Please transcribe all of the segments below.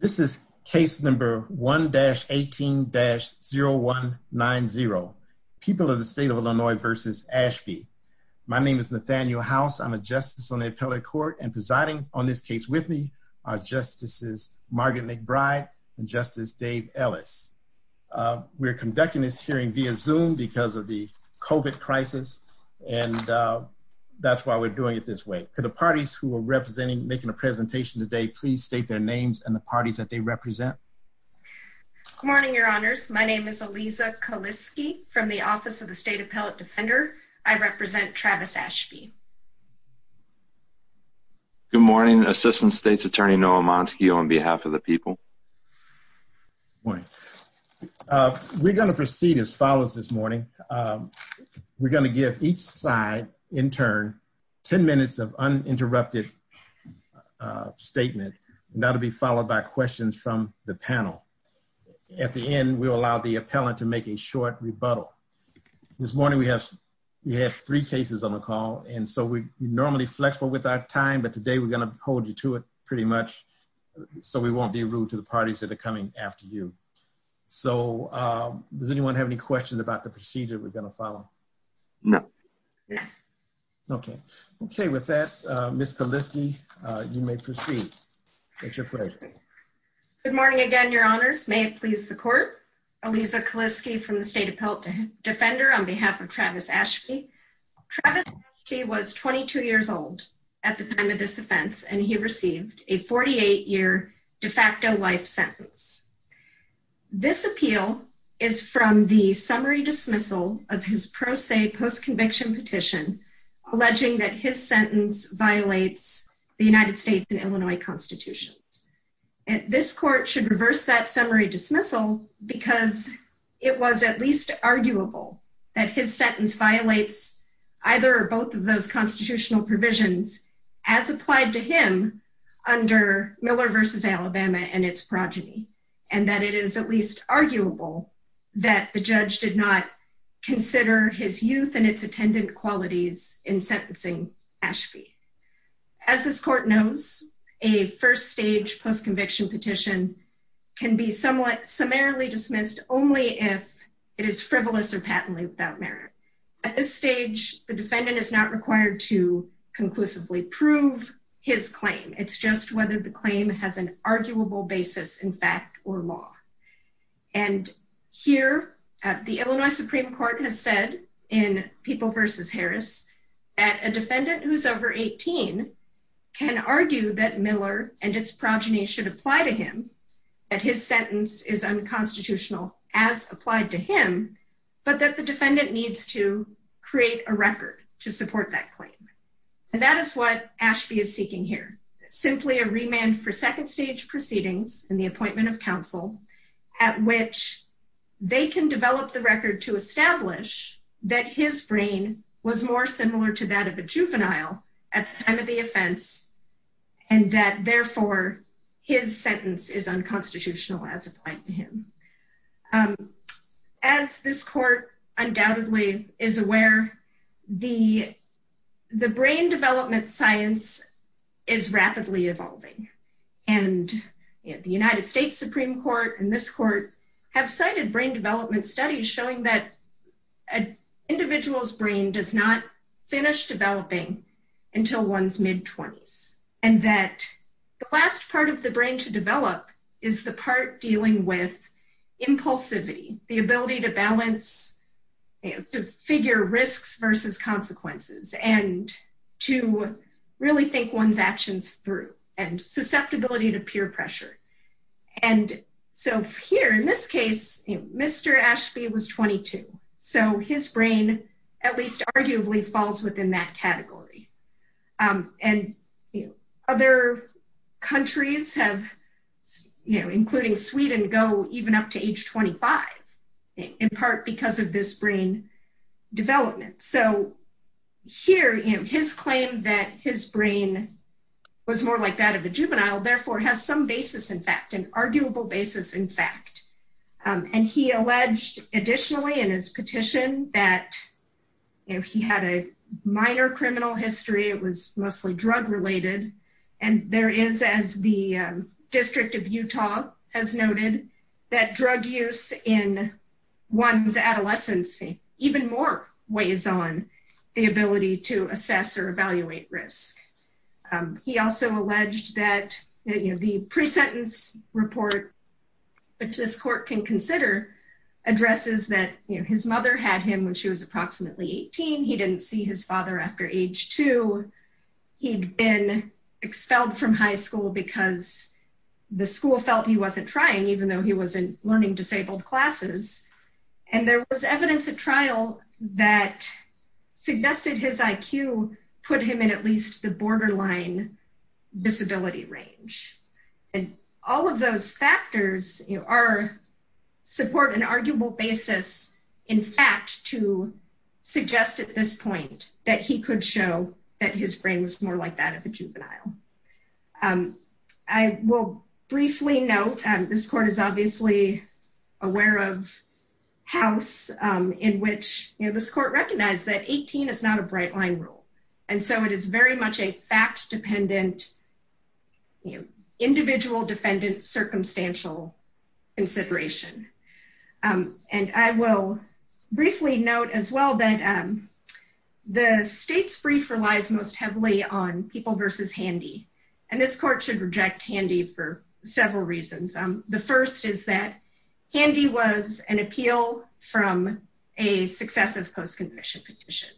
This is case number 1-18-0190. People of the State of Illinois versus Ashby. My name is Nathaniel House. I'm a justice on the appellate court and presiding on this case with me are Justices Margaret McBride and Justice Dave Ellis. We're conducting this hearing via Zoom because of the COVID crisis and that's why we're doing it this way. Could the parties who are representing making a presentation today please state their names and the parties that they represent. Good morning your honors. My name is Aliza Kaliski from the Office of the State Appellate Defender. I represent Travis Ashby. Good morning. Assistant State's Attorney Noah Monskio on behalf of the people. We're gonna proceed as follows this morning. We're gonna give each side in turn 10 minutes of uninterrupted statement. That'll be followed by questions from the panel. At the end we'll allow the appellant to make a short rebuttal. This morning we have three cases on the call and so we're normally flexible with our time but today we're gonna hold you to it pretty much so we won't be rude to the parties that are coming after you. So does anyone have any questions about the procedure we're gonna follow? No. Okay. Okay with that Ms. Kaliski you may proceed. It's your pleasure. Good morning again your honors. May it please the court. Aliza Kaliski from the State Appellate Defender on behalf of Travis Ashby. Travis Ashby was 22 years old at the time of this offense and he received a 48 year de facto life sentence. This appeal is from the summary dismissal of his pro se post conviction petition alleging that his sentence violates the United States and Illinois Constitution. This court should reverse that summary dismissal because it was at least arguable that his sentence violates either or both of those constitutional provisions as applied to him under Miller versus Alabama and its arguable that the judge did not consider his youth and its attendant qualities in sentencing Ashby. As this court knows a first stage post conviction petition can be somewhat summarily dismissed only if it is frivolous or patently without merit. At this stage the defendant is not required to conclusively prove his claim. It's just whether the claim has an arguable basis in fact or law. And here at the Illinois Supreme Court has said in people versus Harris at a defendant who's over 18 can argue that Miller and its progeny should apply to him that his sentence is unconstitutional as applied to him but that the defendant needs to create a record to support that claim. And that is what Ashby is seeking here. Simply a remand for second stage proceedings in the appointment of counsel at which they can develop the record to establish that his brain was more similar to that of a juvenile at the time of the offense and that therefore his sentence is unconstitutional as applied to him. As this court undoubtedly is aware the the brain development science is rapidly evolving and the United States Supreme Court and this court have cited brain development studies showing that an individual's brain does not finish developing until one's mid-twenties and that the last part of the brain to develop is the part dealing with impulsivity the ability to really think one's actions through and susceptibility to peer pressure. And so here in this case Mr. Ashby was 22 so his brain at least arguably falls within that category. And other countries have you know including Sweden go even up to that his brain was more like that of a juvenile therefore has some basis in fact an arguable basis in fact. And he alleged additionally in his petition that if he had a minor criminal history it was mostly drug-related and there is as the District of Utah has noted that drug use in one's adolescency even more weighs on the ability to assess or evaluate risk. He also alleged that the pre-sentence report which this court can consider addresses that his mother had him when she was approximately 18. He didn't see his father after age two. He'd been expelled from high school because the school felt he wasn't trying even though he was in learning disabled classes. And there was evidence at trial that suggested his IQ put him in at least the borderline disability range. And all of those factors you know are support an arguable basis in fact to suggest at this point that he could show that his brain was more like that of a juvenile. And I'm obviously aware of House in which this court recognized that 18 is not a bright-line rule. And so it is very much a fact-dependent individual defendant circumstantial consideration. And I will briefly note as well that the state's brief relies most heavily on people versus Handy. And this court should acknowledge is that Handy was an appeal from a successive post-conviction petition.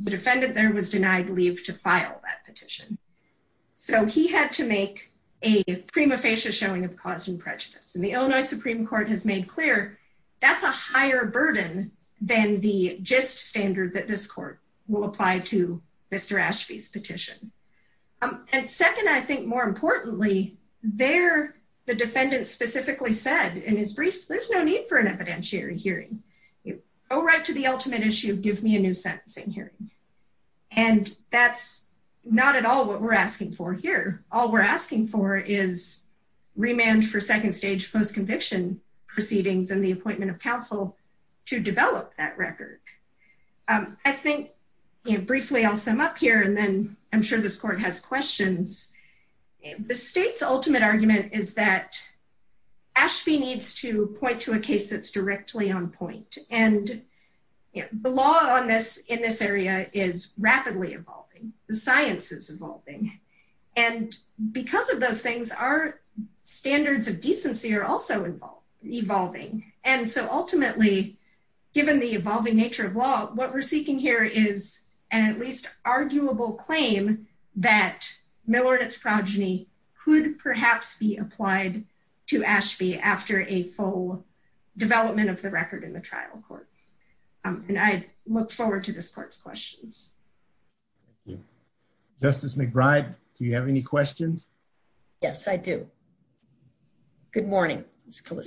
The defendant there was denied leave to file that petition. So he had to make a prima facie showing of cause and prejudice. And the Illinois Supreme Court has made clear that's a higher burden than the gist standard that this court will apply to Mr. Ashby's petition. And second I think more importantly there the defendant specifically said in his briefs there's no need for an evidentiary hearing. Go right to the ultimate issue give me a new sentencing hearing. And that's not at all what we're asking for here. All we're asking for is remand for second stage post-conviction proceedings and the appointment of counsel to develop that record. I think you know briefly I'll sum up here and I'm sure this court has questions. The state's ultimate argument is that Ashby needs to point to a case that's directly on point. And the law on this in this area is rapidly evolving. The science is evolving. And because of those things our standards of decency are also involved evolving. And so ultimately given the claim that Miller and its progeny could perhaps be applied to Ashby after a full development of the record in the trial court. And I look forward to this court's questions. Justice McBride do you have any questions? Yes I do. Good morning Ms. that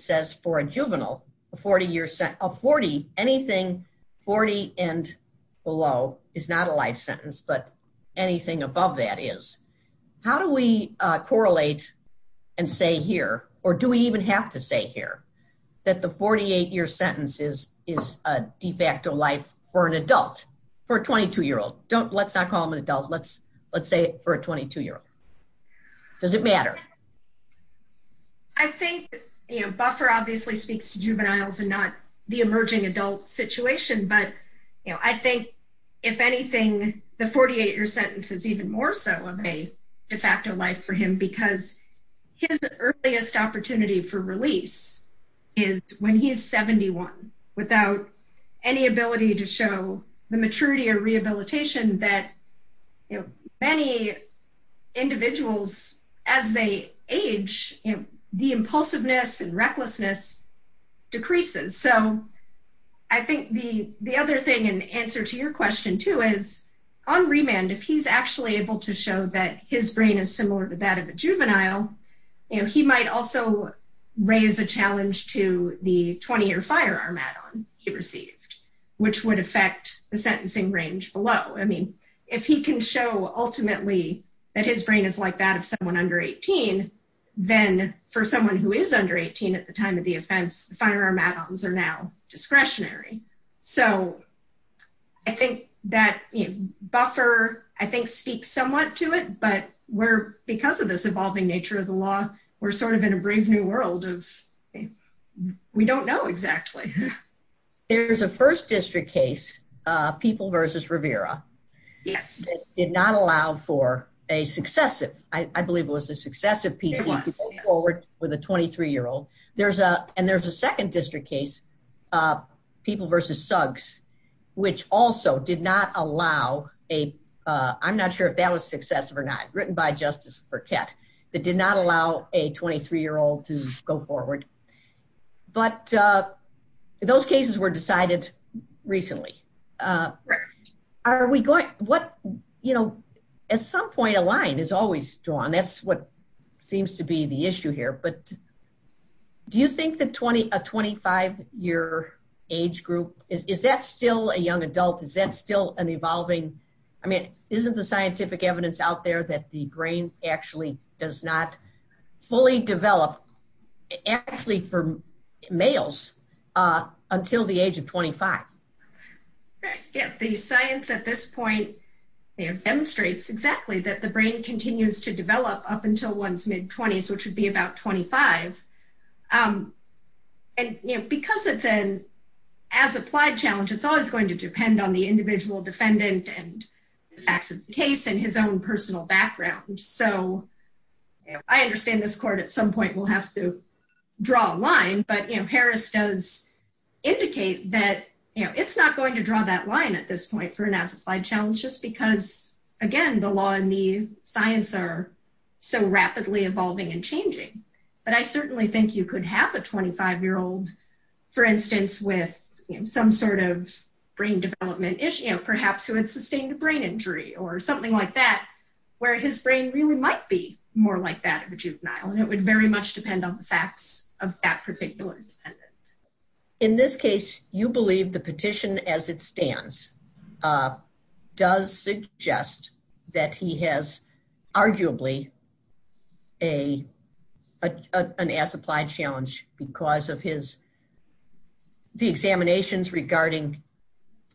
says for a juvenile a 40 year set of 40 anything 40 and below is not a life sentence but anything above that is. How do we correlate and say here or do we even have to say here that the 48 year sentences is a de facto life for an adult for a 22 year old. Don't let's not call him an adult let's let's say for a 22 year old. Does it matter? I think you know Buffer obviously speaks to juveniles and not the emerging adult situation but you know I think if anything the 48 year sentence is even more so of a de facto life for him because his earliest opportunity for release is when he's 71 without any ability to show the maturity or rehabilitation that many individuals as they age the impulsiveness and recklessness decreases. So I think the the other thing and answer to your question too is on remand if he's actually able to show that his brain is similar to that of a juvenile you know he might also raise a challenge to the sentencing range below. I mean if he can show ultimately that his brain is like that of someone under 18 then for someone who is under 18 at the time of the offense firearm add-ons are now discretionary. So I think that Buffer I think speaks somewhat to it but we're because of this evolving nature of the law we're sort of in a brave new world of we don't know exactly. There's a first district case people versus Rivera did not allow for a successive I believe it was a successive PC forward with a 23 year old there's a and there's a second district case people versus Suggs which also did not allow a I'm not sure if that was successive or not written by Justice Burkett that did not allow a 23 year old to go forward. But those cases were decided recently. Are we going what you know at some point a line is always drawn that's what seems to be the issue here but do you think that 20 a 25 year age group is that still a young adult is that still an evolving I mean isn't the scientific evidence out there that the develop actually for males until the age of 25? The science at this point demonstrates exactly that the brain continues to develop up until one's mid 20s which would be about 25 and because it's an as applied challenge it's always going to depend on the individual defendant and facts of the case and his own personal background so I understand this court at some point will have to draw a line but you know Harris does indicate that you know it's not going to draw that line at this point for an as applied challenge just because again the law and the science are so rapidly evolving and changing but I certainly think you could have a 25 year old for instance with some sort of brain development issue perhaps who had sustained a brain injury or something like that where his brain really might be more like that of a juvenile and it would very much depend on the facts of that particular defendant. In this case you believe the petition as it stands does suggest that he has arguably a an as applied challenge because of his the examinations regarding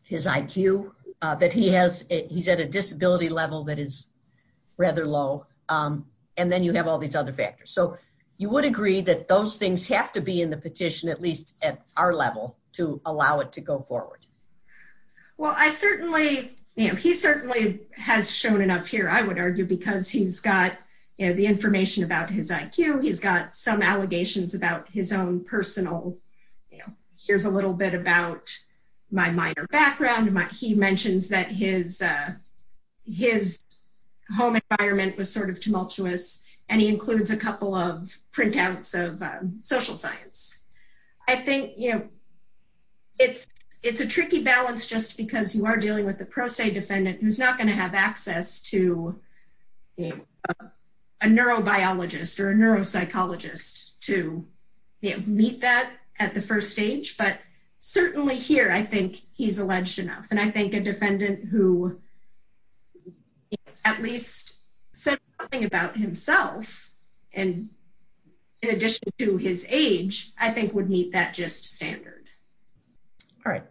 his IQ that he has he's at a disability level that is rather low and then you have all these other factors so you would agree that those things have to be in the petition at least at our level to allow it to go forward. Well I certainly you know he certainly has shown enough here I would argue because he's got you know the information about his IQ he's got some allegations about his own personal you his home environment was sort of tumultuous and he includes a couple of printouts of social science. I think you know it's it's a tricky balance just because you are dealing with the pro se defendant who's not going to have access to a neurobiologist or a neuropsychologist to meet that at the first stage but certainly here I think he's alleged enough and I think a defendant who at least said something about himself and in addition to his age I think would meet that just standard. All right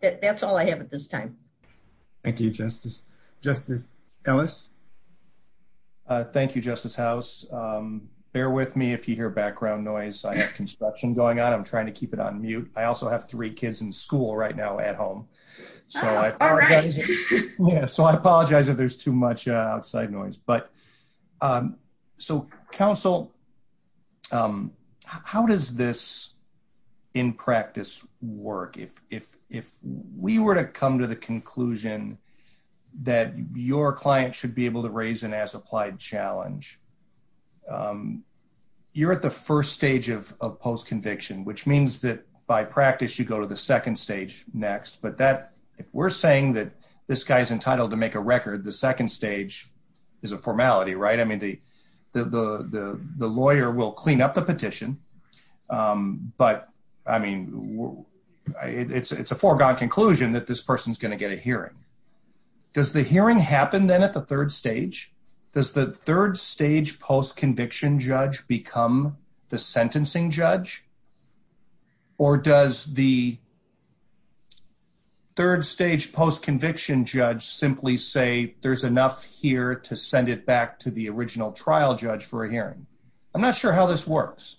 that's all I have at this time. Thank you Justice. Justice Ellis. Thank You Justice House. Bear with me if you hear background noise I have construction going on I'm trying to keep it on mute I also have three kids in now at home so I apologize if there's too much outside noise but so counsel how does this in practice work if if we were to come to the conclusion that your client should be able to raise an as-applied challenge you're at the first stage of post conviction which means that by practice you go to the second stage next but that if we're saying that this guy's entitled to make a record the second stage is a formality right I mean the the the lawyer will clean up the petition but I mean it's it's a foregone conclusion that this person's gonna get a hearing. Does the hearing happen then at the third stage? Does the third stage post conviction judge become the sentencing judge or does the third stage post conviction judge simply say there's enough here to send it back to the original trial judge for a hearing? I'm not sure how this works.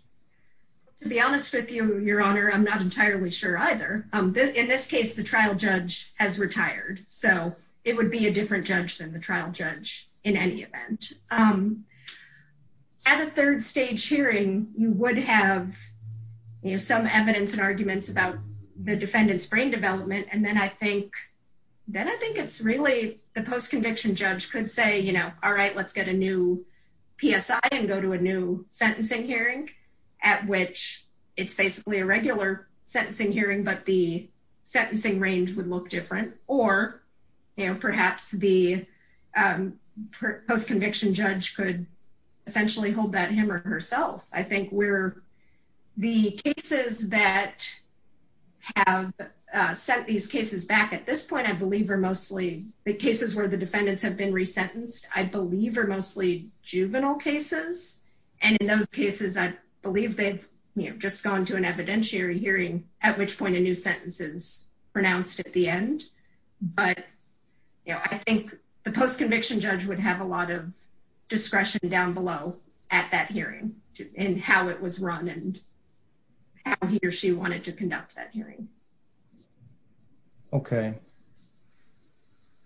To be honest with you your honor I'm not entirely sure either. In this case the trial judge has retired so it would be a different judge than the trial judge in any event. At a third stage hearing you would have you know some evidence and the defendant's brain development and then I think then I think it's really the post conviction judge could say you know all right let's get a new PSI and go to a new sentencing hearing at which it's basically a regular sentencing hearing but the sentencing range would look different or you know perhaps the post conviction judge could essentially hold that hammer herself. I think we're the cases that have sent these cases back at this point I believe are mostly the cases where the defendants have been resentenced I believe are mostly juvenile cases and in those cases I believe they've just gone to an evidentiary hearing at which point a new sentence is pronounced at the end but you know I think the post conviction judge would have a lot of discretion down below at that hearing and how it was run and how he or she wanted to conduct that hearing. Okay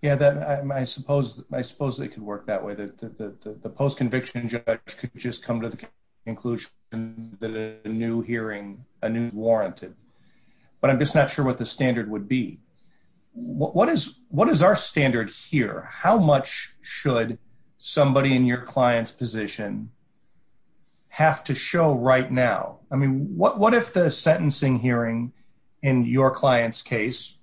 yeah that I suppose I suppose it could work that way that the post conviction judge could just come to the conclusion that a new hearing a new warranted but I'm just not sure what the standard would be. What is what is our standard here how much should somebody in your clients position have to show right now I mean what what if the sentencing hearing in your client's case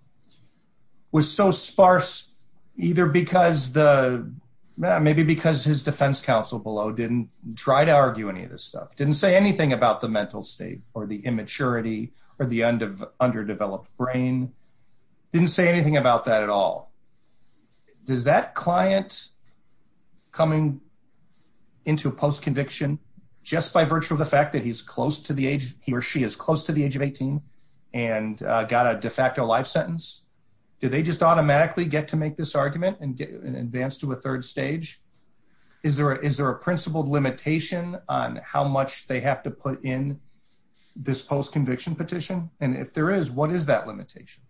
was so sparse either because the maybe because his defense counsel below didn't try to argue any of this stuff didn't say anything about the mental state or the immaturity or the end of underdeveloped brain didn't say anything about that at all does that client coming into post conviction just by virtue of the fact that he's close to the age he or she is close to the age of 18 and got a de facto life sentence do they just automatically get to make this argument and get an advance to a third stage is there is there a principled limitation on how much they have to put in this post conviction petition and if is what is that limitation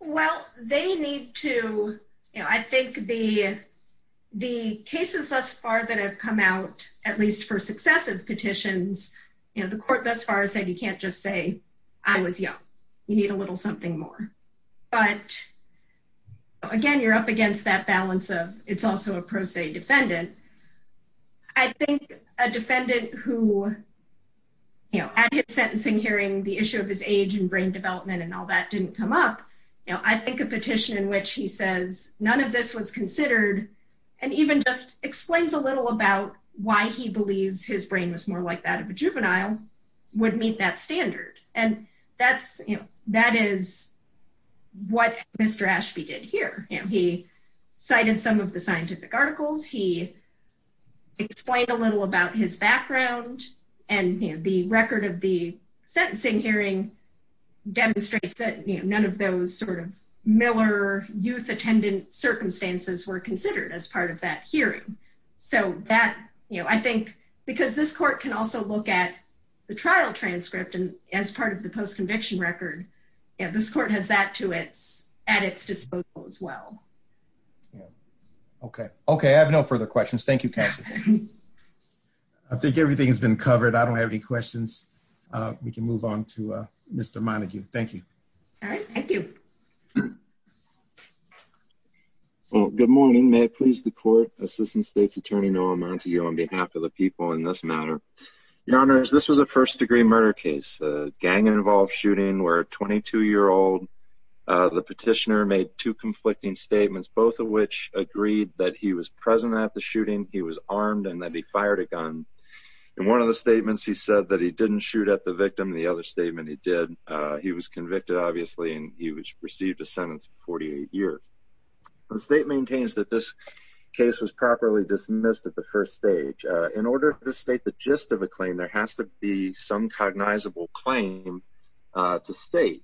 well they need to you know I think the the cases thus far that have come out at least for successive petitions you know the court thus far said you can't just say I was young you need a little something more but again you're up against that balance of it's also a pro se defendant I think a of his age and brain development and all that didn't come up you know I think a petition in which he says none of this was considered and even just explains a little about why he believes his brain was more like that of a juvenile would meet that standard and that's you know that is what mr. Ashby did here you know he cited some of the scientific articles he explained a little about his demonstrates that none of those sort of Miller youth attendant circumstances were considered as part of that hearing so that you know I think because this court can also look at the trial transcript and as part of the post conviction record and this court has that to its at its disposal as well okay okay I have no further questions Thank You Kathy I think everything has we can move on to mr. Montague thank you all right thank you well good morning may it please the court assistant state's attorney no amount to you on behalf of the people in this matter your honors this was a first degree murder case gang-involved shooting where a 22 year old the petitioner made two conflicting statements both of which agreed that he was present at the shooting he was armed and that he fired a gun and one of the shoot at the victim the other statement he did he was convicted obviously and he was received a sentence of 48 years the state maintains that this case was properly dismissed at the first stage in order to state the gist of a claim there has to be some cognizable claim to state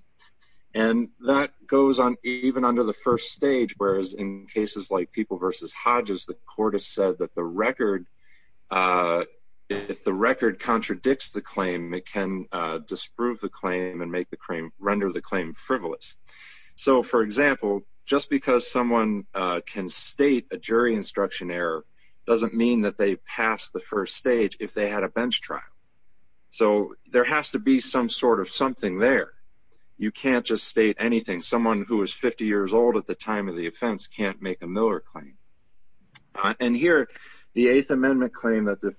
and that goes on even under the first stage whereas in cases like people versus Hodges the court has said that the record if the record contradicts the claim it can disprove the claim and make the cream render the claim frivolous so for example just because someone can state a jury instruction error doesn't mean that they pass the first stage if they had a bench trial so there has to be some sort of something there you can't just state anything someone who is 50 years old at the time of the offense can't make a Miller claim and here the 8th amendment claim that the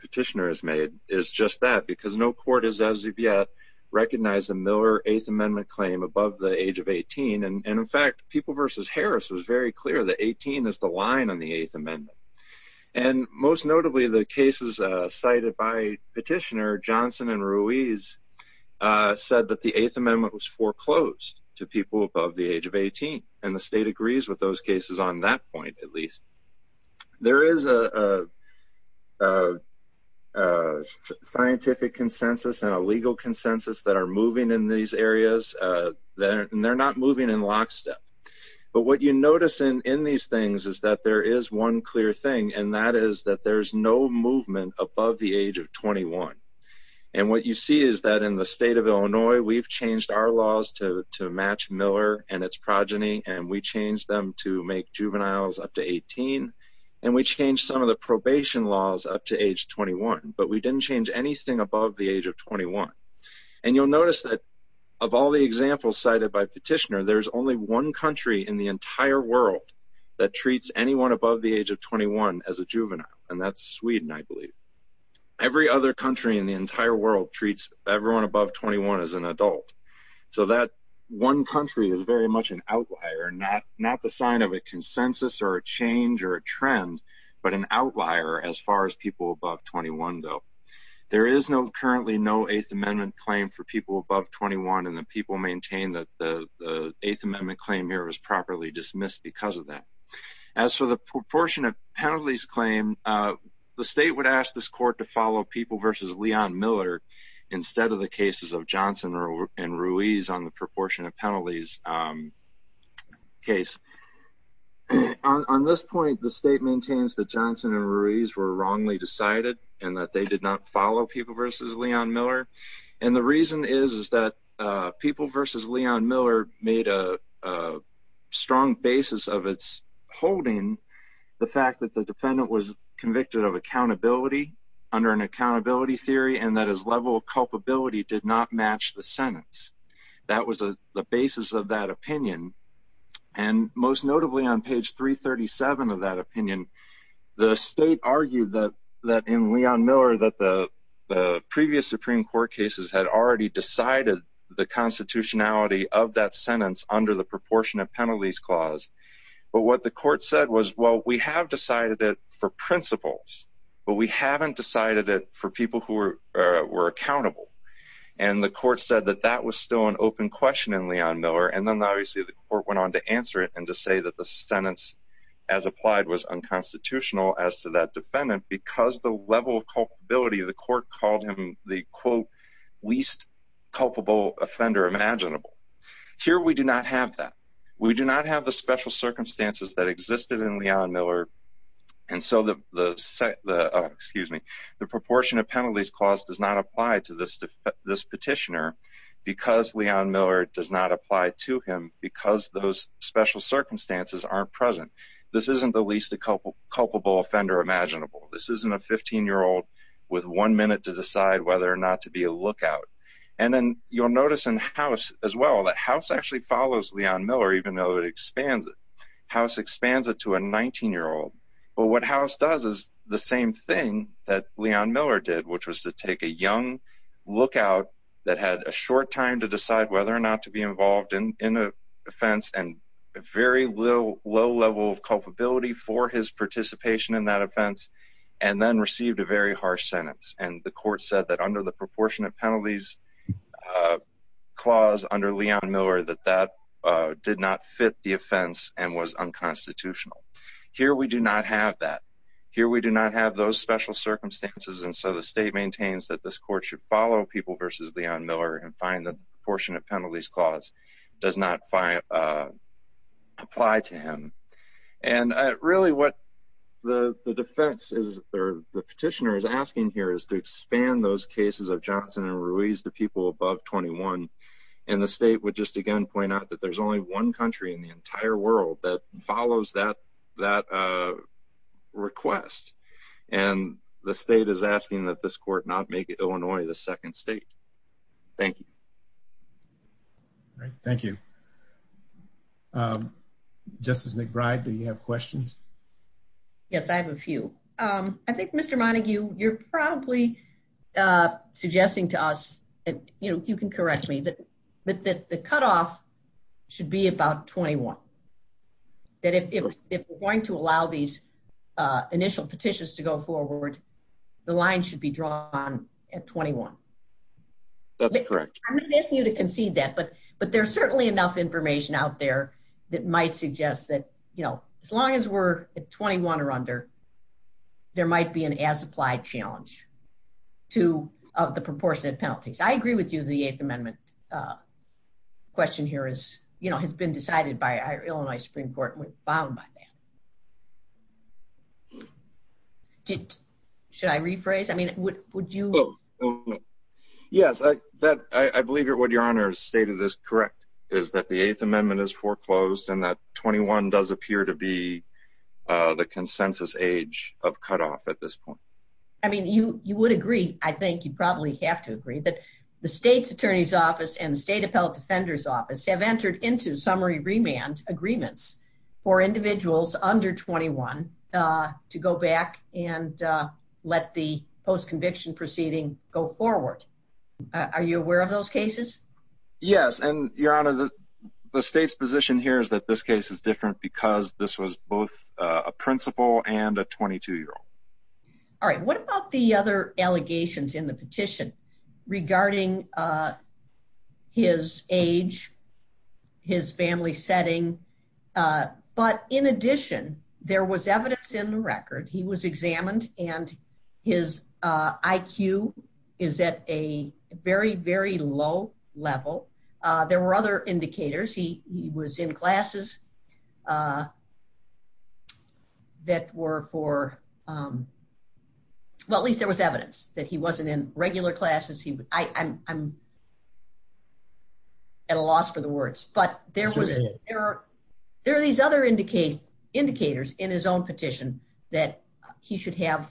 petitioner has made is just that because no court has yet recognized a Miller 8th amendment claim above the age of 18 and in fact people versus Harris was very clear that 18 is the line on the 8th amendment and most notably the cases cited by petitioner Johnson and Ruiz said that the 8th state agrees with those cases on that point at least there is a scientific consensus and a legal consensus that are moving in these areas then they're not moving in lockstep but what you notice in in these things is that there is one clear thing and that is that there's no movement above the age of 21 and what you see is that in the state of Illinois we've changed our laws to match Miller and its progeny and we change them to make juveniles up to 18 and we change some of the probation laws up to age 21 but we didn't change anything above the age of 21 and you'll notice that of all the examples cited by petitioner there's only one country in the entire world that treats anyone above the age of 21 as a juvenile and that's Sweden I believe every other country in the entire world treats everyone above 21 as an adult so that one country is very much an outlier not not the sign of a consensus or a change or a trend but an outlier as far as people above 21 though there is no currently no 8th amendment claim for people above 21 and the people maintain that the 8th amendment claim here was properly dismissed because of that as for the proportion of penalties claim the state would ask this court to follow people versus Leon Miller instead of the cases of Johnson or and Ruiz on the portion of penalties case on this point the state maintains that Johnson and Ruiz were wrongly decided and that they did not follow people versus Leon Miller and the reason is is that people versus Leon Miller made a strong basis of its holding the fact that the defendant was convicted of accountability under an accountability theory and that his level of culpability did not match the sentence that was a the basis of that opinion and most notably on page 337 of that opinion the state argued that that in Leon Miller that the previous Supreme Court cases had already decided the constitutionality of that sentence under the proportion of penalties clause but what the court said was well we have decided it for principles but we haven't decided it for people who were were accountable and the court said that that was still an open question in Leon Miller and then obviously the court went on to answer it and to say that the sentence as applied was unconstitutional as to that defendant because the level of culpability of the court called him the quote least culpable offender imaginable here we do not have that we do not have the special circumstances that existed in Leon Miller and so that the excuse me the proportion of to this petitioner because Leon Miller does not apply to him because those special circumstances aren't present this isn't the least a couple culpable offender imaginable this isn't a 15 year old with one minute to decide whether or not to be a lookout and then you'll notice in house as well that house actually follows Leon Miller even though it expands it house expands it to a 19 year old but what house does is the same thing that Leon Miller did which was to take a young lookout that had a short time to decide whether or not to be involved in an offense and a very little low level of culpability for his participation in that offense and then received a very harsh sentence and the court said that under the proportionate penalties clause under Leon Miller that that did not fit the offense and was unconstitutional here we do not have that here we do not have those special circumstances and so the state maintains that this court should follow people versus Leon Miller and find the proportionate penalties clause does not apply to him and really what the defense is or the petitioner is asking here is to expand those cases of Johnson and Ruiz the people above 21 and the state would just again point out that there's only one country in the entire world that follows that that request and the Illinois the second state thank you thank you justice McBride do you have questions yes I have a few I think mr. Monague you're probably suggesting to us and you know you can correct me that but that the cutoff should be about 21 that if it was going to allow these initial petitions to go forward the line should be drawn at 21 that's correct I'm going to ask you to concede that but but there's certainly enough information out there that might suggest that you know as long as we're at 21 or under there might be an as-applied challenge to the proportionate penalties I agree with you the Eighth Amendment question here is you know has been decided by our Illinois Supreme Court was bound by that did should I rephrase I mean would you yes I that I believe it what your honor stated is correct is that the Eighth Amendment is foreclosed and that 21 does appear to be the consensus age of cutoff at this point I mean you you would agree I think you probably have to agree that the state's attorney's office and the state appellate defender's office have entered into summary remand agreements for individuals under 21 to go back and let the post conviction proceeding go forward are you aware of those cases yes and your honor the state's position here is that this case is different because this was both a principal and a 22 year old all right what about the other his family setting but in addition there was evidence in the record he was examined and his IQ is at a very very low level there were other indicators he was in classes that were for well at least there was evidence that he wasn't in regular classes he I'm at a loss for the words but there was there are these other indicate indicators in his own petition that he should have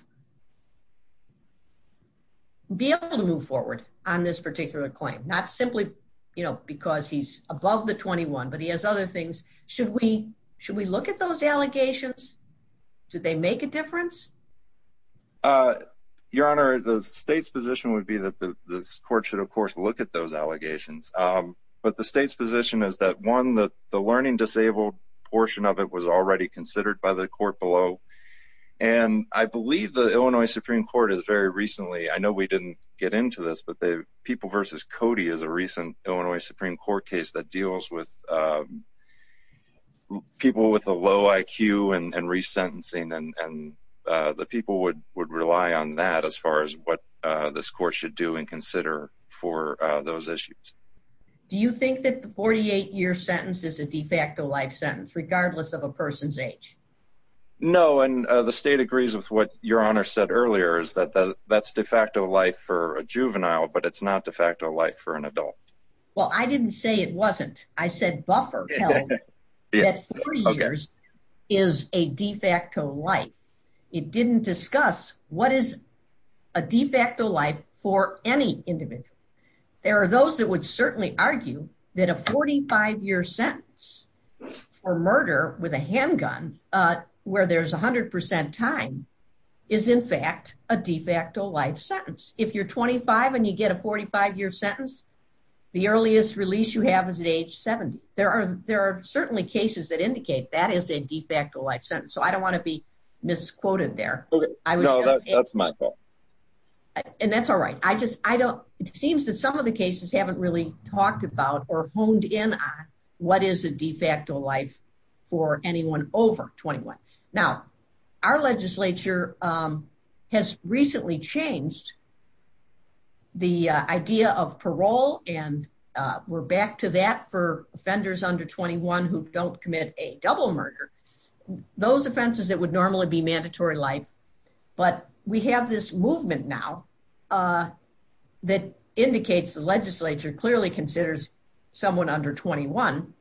be able to move forward on this particular claim not simply you know because he's above the 21 but he has other things should we should we look at those allegations do they make a difference your honor the state's position would be that this court should of course look at those allegations but the state's position is that one that the learning disabled portion of it was already considered by the court below and I believe the Illinois Supreme Court is very recently I know we didn't get into this but they people versus Cody is a recent Illinois Supreme Court case that deals with people with a low IQ and resentencing and the people would would rely on that as far as what this court should do and consider for those issues do you think that the 48-year sentence is a de facto life sentence regardless of a person's age no and the state agrees with what your honor said earlier is that that's de facto life for a juvenile but it's not de facto life for an adult well I didn't say it wasn't I said is a de facto life it didn't discuss what is a de facto life for any individual there are those that would certainly argue that a 45 year sentence for murder with a handgun where there's a hundred percent time is in fact a de facto life sentence if you're 25 and you get a 45 year sentence the earliest release you have is at age 70 there are there are certainly cases that indicate that is a de facto life sentence so I don't want to be misquoted there okay I know that's my fault and that's all right I just I don't it seems that some of the cases haven't really talked about or honed in on what is a de facto life for anyone over 21 now our legislature has recently changed the idea of parole and we're back to that for offenders under 21 who don't commit a double murder those offenses that would normally be mandatory life but we have this movement now that indicates the legislature clearly considers someone under 21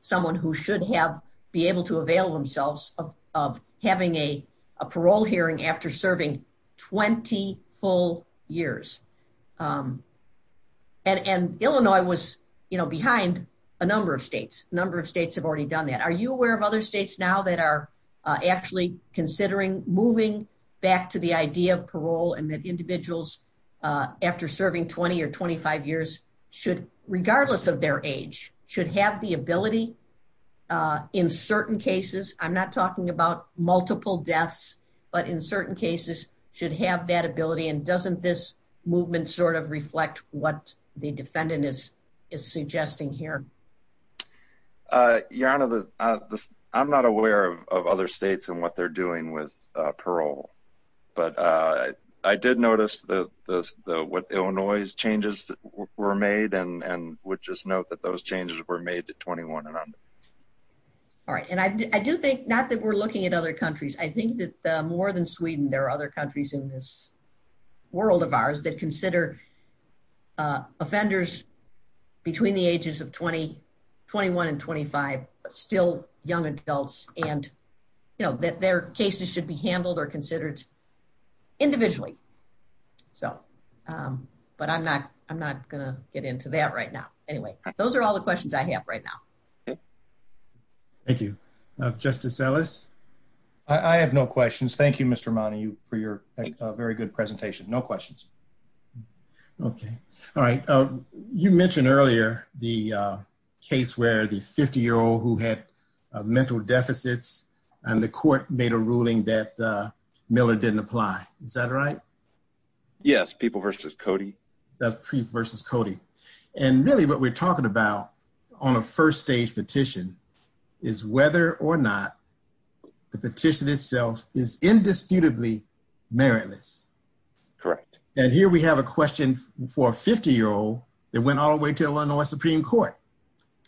someone who should have be able to avail themselves of having a parole hearing after serving 20 full years and and Illinois was you know behind a number of states number of states have already done that are you aware of other states now that are actually considering moving back to the idea of parole and that individuals after serving 20 or 25 years should regardless of their age should have the ability in certain cases I'm not talking about multiple deaths but in certain cases should have that ability and doesn't this movement sort of reflect what the defendant is is suggesting here your honor the I'm not aware of other states and what they're doing with parole but I did notice the what Illinois's changes were made and and would just note that those changes were made to 21 and under all right and I do think not that we're looking at other countries I think that more than Sweden there are other countries in this world of ours that consider offenders between the ages of 20 21 and 25 still young adults and you know that their cases should be handled or considered individually so but I'm not I'm not gonna get into that right now anyway those are all the questions I have right now thank you justice Ellis I have no questions thank you mr. money you for your very good presentation no questions okay all right you mentioned earlier the case where the 50 year old who had mental deficits and the court made a ruling that Miller didn't apply is that right yes people versus Cody that's pre versus Cody and really what we're talking about on a first stage petition is whether or not the petition itself is indisputably meritless correct and here we have a question for a 50 year old that went all the way to Illinois Supreme Court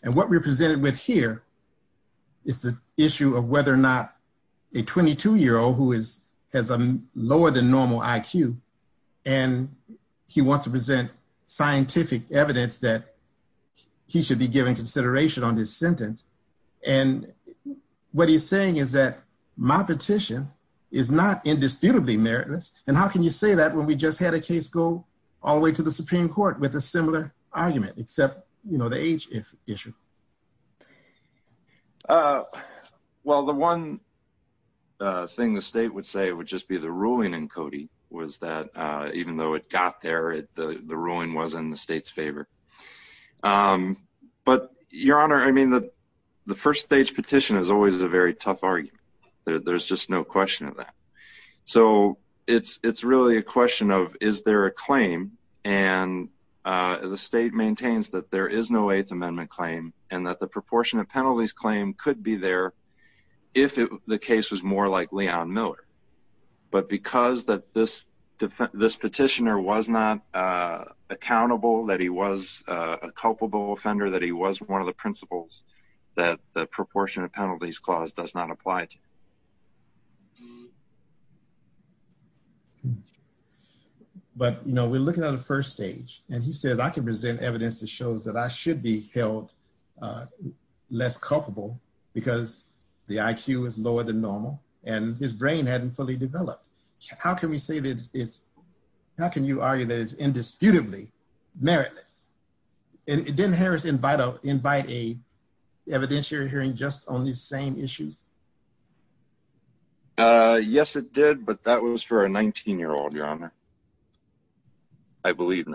and what we're presented with here it's the issue of whether or not a 22 year old who is has a lower than normal IQ and he wants to present scientific evidence that he should be giving consideration on this sentence and what he's saying is that my petition is not indisputably meritless and how can you say that when we just had a case go all the way to the Supreme Court with a similar argument except you know the age if issue well the one thing the state would say it would just be the ruling in Cody was that even though it got there it the the ruling was in the state's favor but your honor I mean that the first stage petition is always a very tough argument there's just no question of that so it's it's really a question of is there a claim and the state maintains that there is no Eighth Amendment claim and that the proportion of penalties claim could be there if it the case was more likely on Miller but because that this this petitioner was not accountable that he was a culpable offender that he was one of the principles that the proportion of penalties clause does not apply to but you know we're looking at a first stage and he says I can present evidence that I should be held less culpable because the IQ is lower than normal and his brain hadn't fully developed how can we say that it's how can you argue that is indisputably meritless it didn't Harris invite up invite a evidentiary hearing just on these same issues yes it did but that was for a 19 year old your honor I limit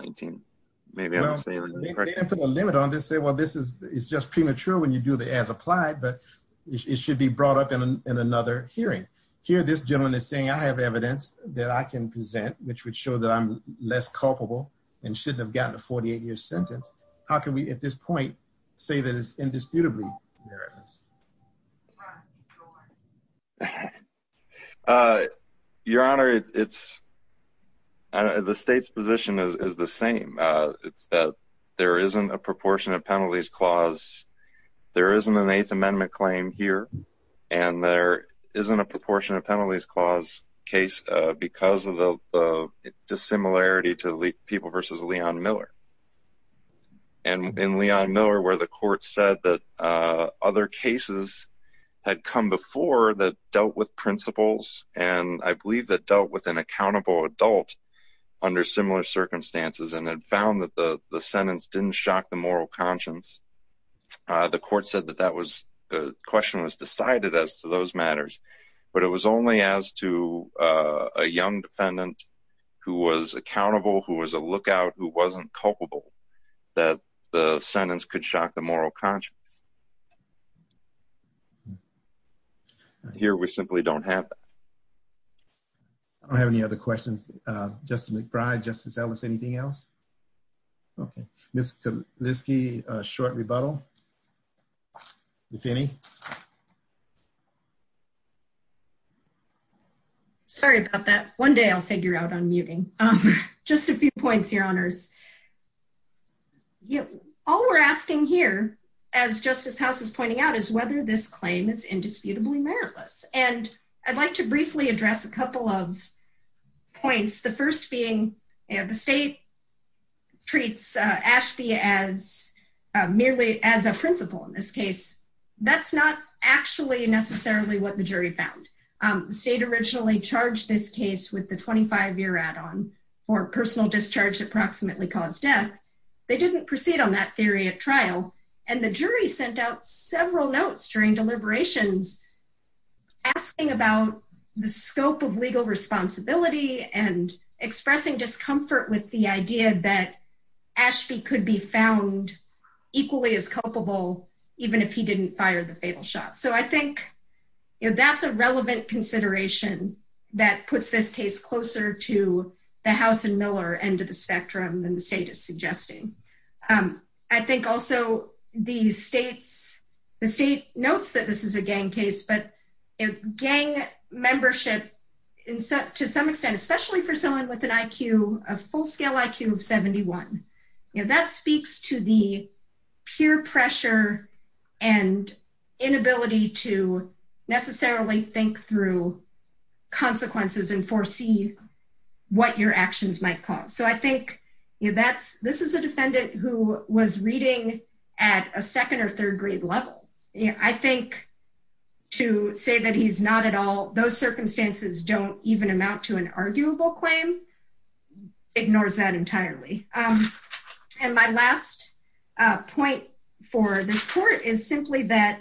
on this say well this is it's just premature when you do the as applied but it should be brought up in another hearing here this gentleman is saying I have evidence that I can present which would show that I'm less culpable and shouldn't have gotten a 48-year sentence how can we at this point say that it's indisputably your honor it's the state's position is the same it's that there isn't a proportion of penalties clause there isn't an Eighth Amendment claim here and there isn't a proportion of penalties clause case because of the dissimilarity to leak people versus Leon Miller and in Leon Miller where the court said that other cases had come before that dealt with principles and I believe that dealt with an accountable adult under similar circumstances and had found that the the sentence didn't shock the moral conscience the court said that that was the question was decided as to those matters but it was only as to a young defendant who was accountable who was a lookout who wasn't culpable that the sentence could shock the moral conscience here we simply don't have I don't have any other questions Justin McBride justice Ellis anything else okay mr. Linsky short rebuttal if any sorry about that one day I'll figure out on muting just a few points your honors you all we're asking here as Justice House is pointing out is whether this claim is indisputably meritless and I'd briefly address a couple of points the first being and the state treats Ashby as merely as a principal in this case that's not actually necessarily what the jury found state originally charged this case with the 25-year add-on or personal discharge approximately caused death they didn't proceed on that theory at trial and the jury sent out several notes during deliberations asking about the scope of legal responsibility and expressing discomfort with the idea that Ashby could be found equally as culpable even if he didn't fire the fatal shot so I think you know that's a relevant consideration that puts this case closer to the house and Miller end of the spectrum and the state is suggesting I think also the states the state notes that this is a gang case but gang membership in set to some extent especially for someone with an IQ a full scale IQ of 71 if that speaks to the peer pressure and inability to necessarily think through consequences and foresee what your actions might cause so I think that's this is a defendant who was reading at a second or say that he's not at all those circumstances don't even amount to an arguable claim ignores that entirely and my last point for this court is simply that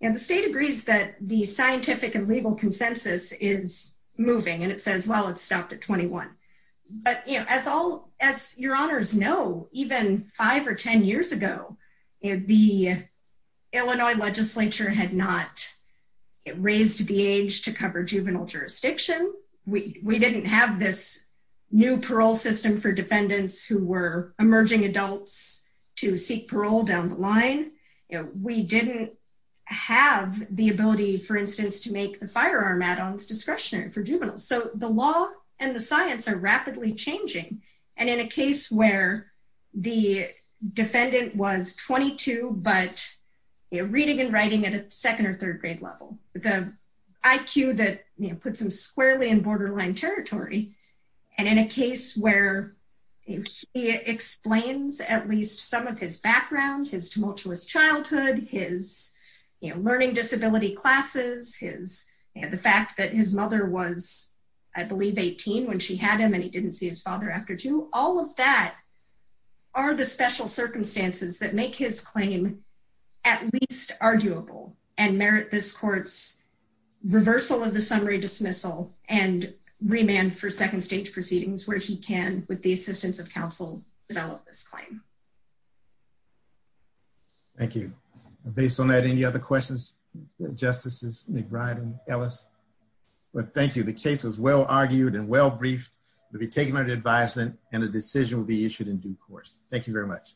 and the state agrees that the scientific and legal consensus is moving and it says well it's stopped at 21 but you know as all as your honors know even five or ten years ago if the Illinois legislature had not it raised the age to cover juvenile jurisdiction we we didn't have this new parole system for defendants who were emerging adults to seek parole down the line you know we didn't have the ability for instance to make the firearm add-ons discretionary for juveniles so the law and the science are rapidly changing and in a case where the defendant was 22 but you're reading and writing at a second or third grade level the IQ that you know put some squarely in borderline territory and in a case where he explains at least some of his background his tumultuous childhood his learning disability classes his and the fact that his mother was I believe 18 when she had him and he didn't see his father after to all of that are the special circumstances that make his claim at least arguable and merit this courts reversal of the summary dismissal and remand for second stage proceedings where he can with the assistance of counsel develop this claim thank you based on that any other questions justices McBride and Ellis but thank you the case was well argued and well briefed to be taken under advisement and a decision will be issued in due course thank you very much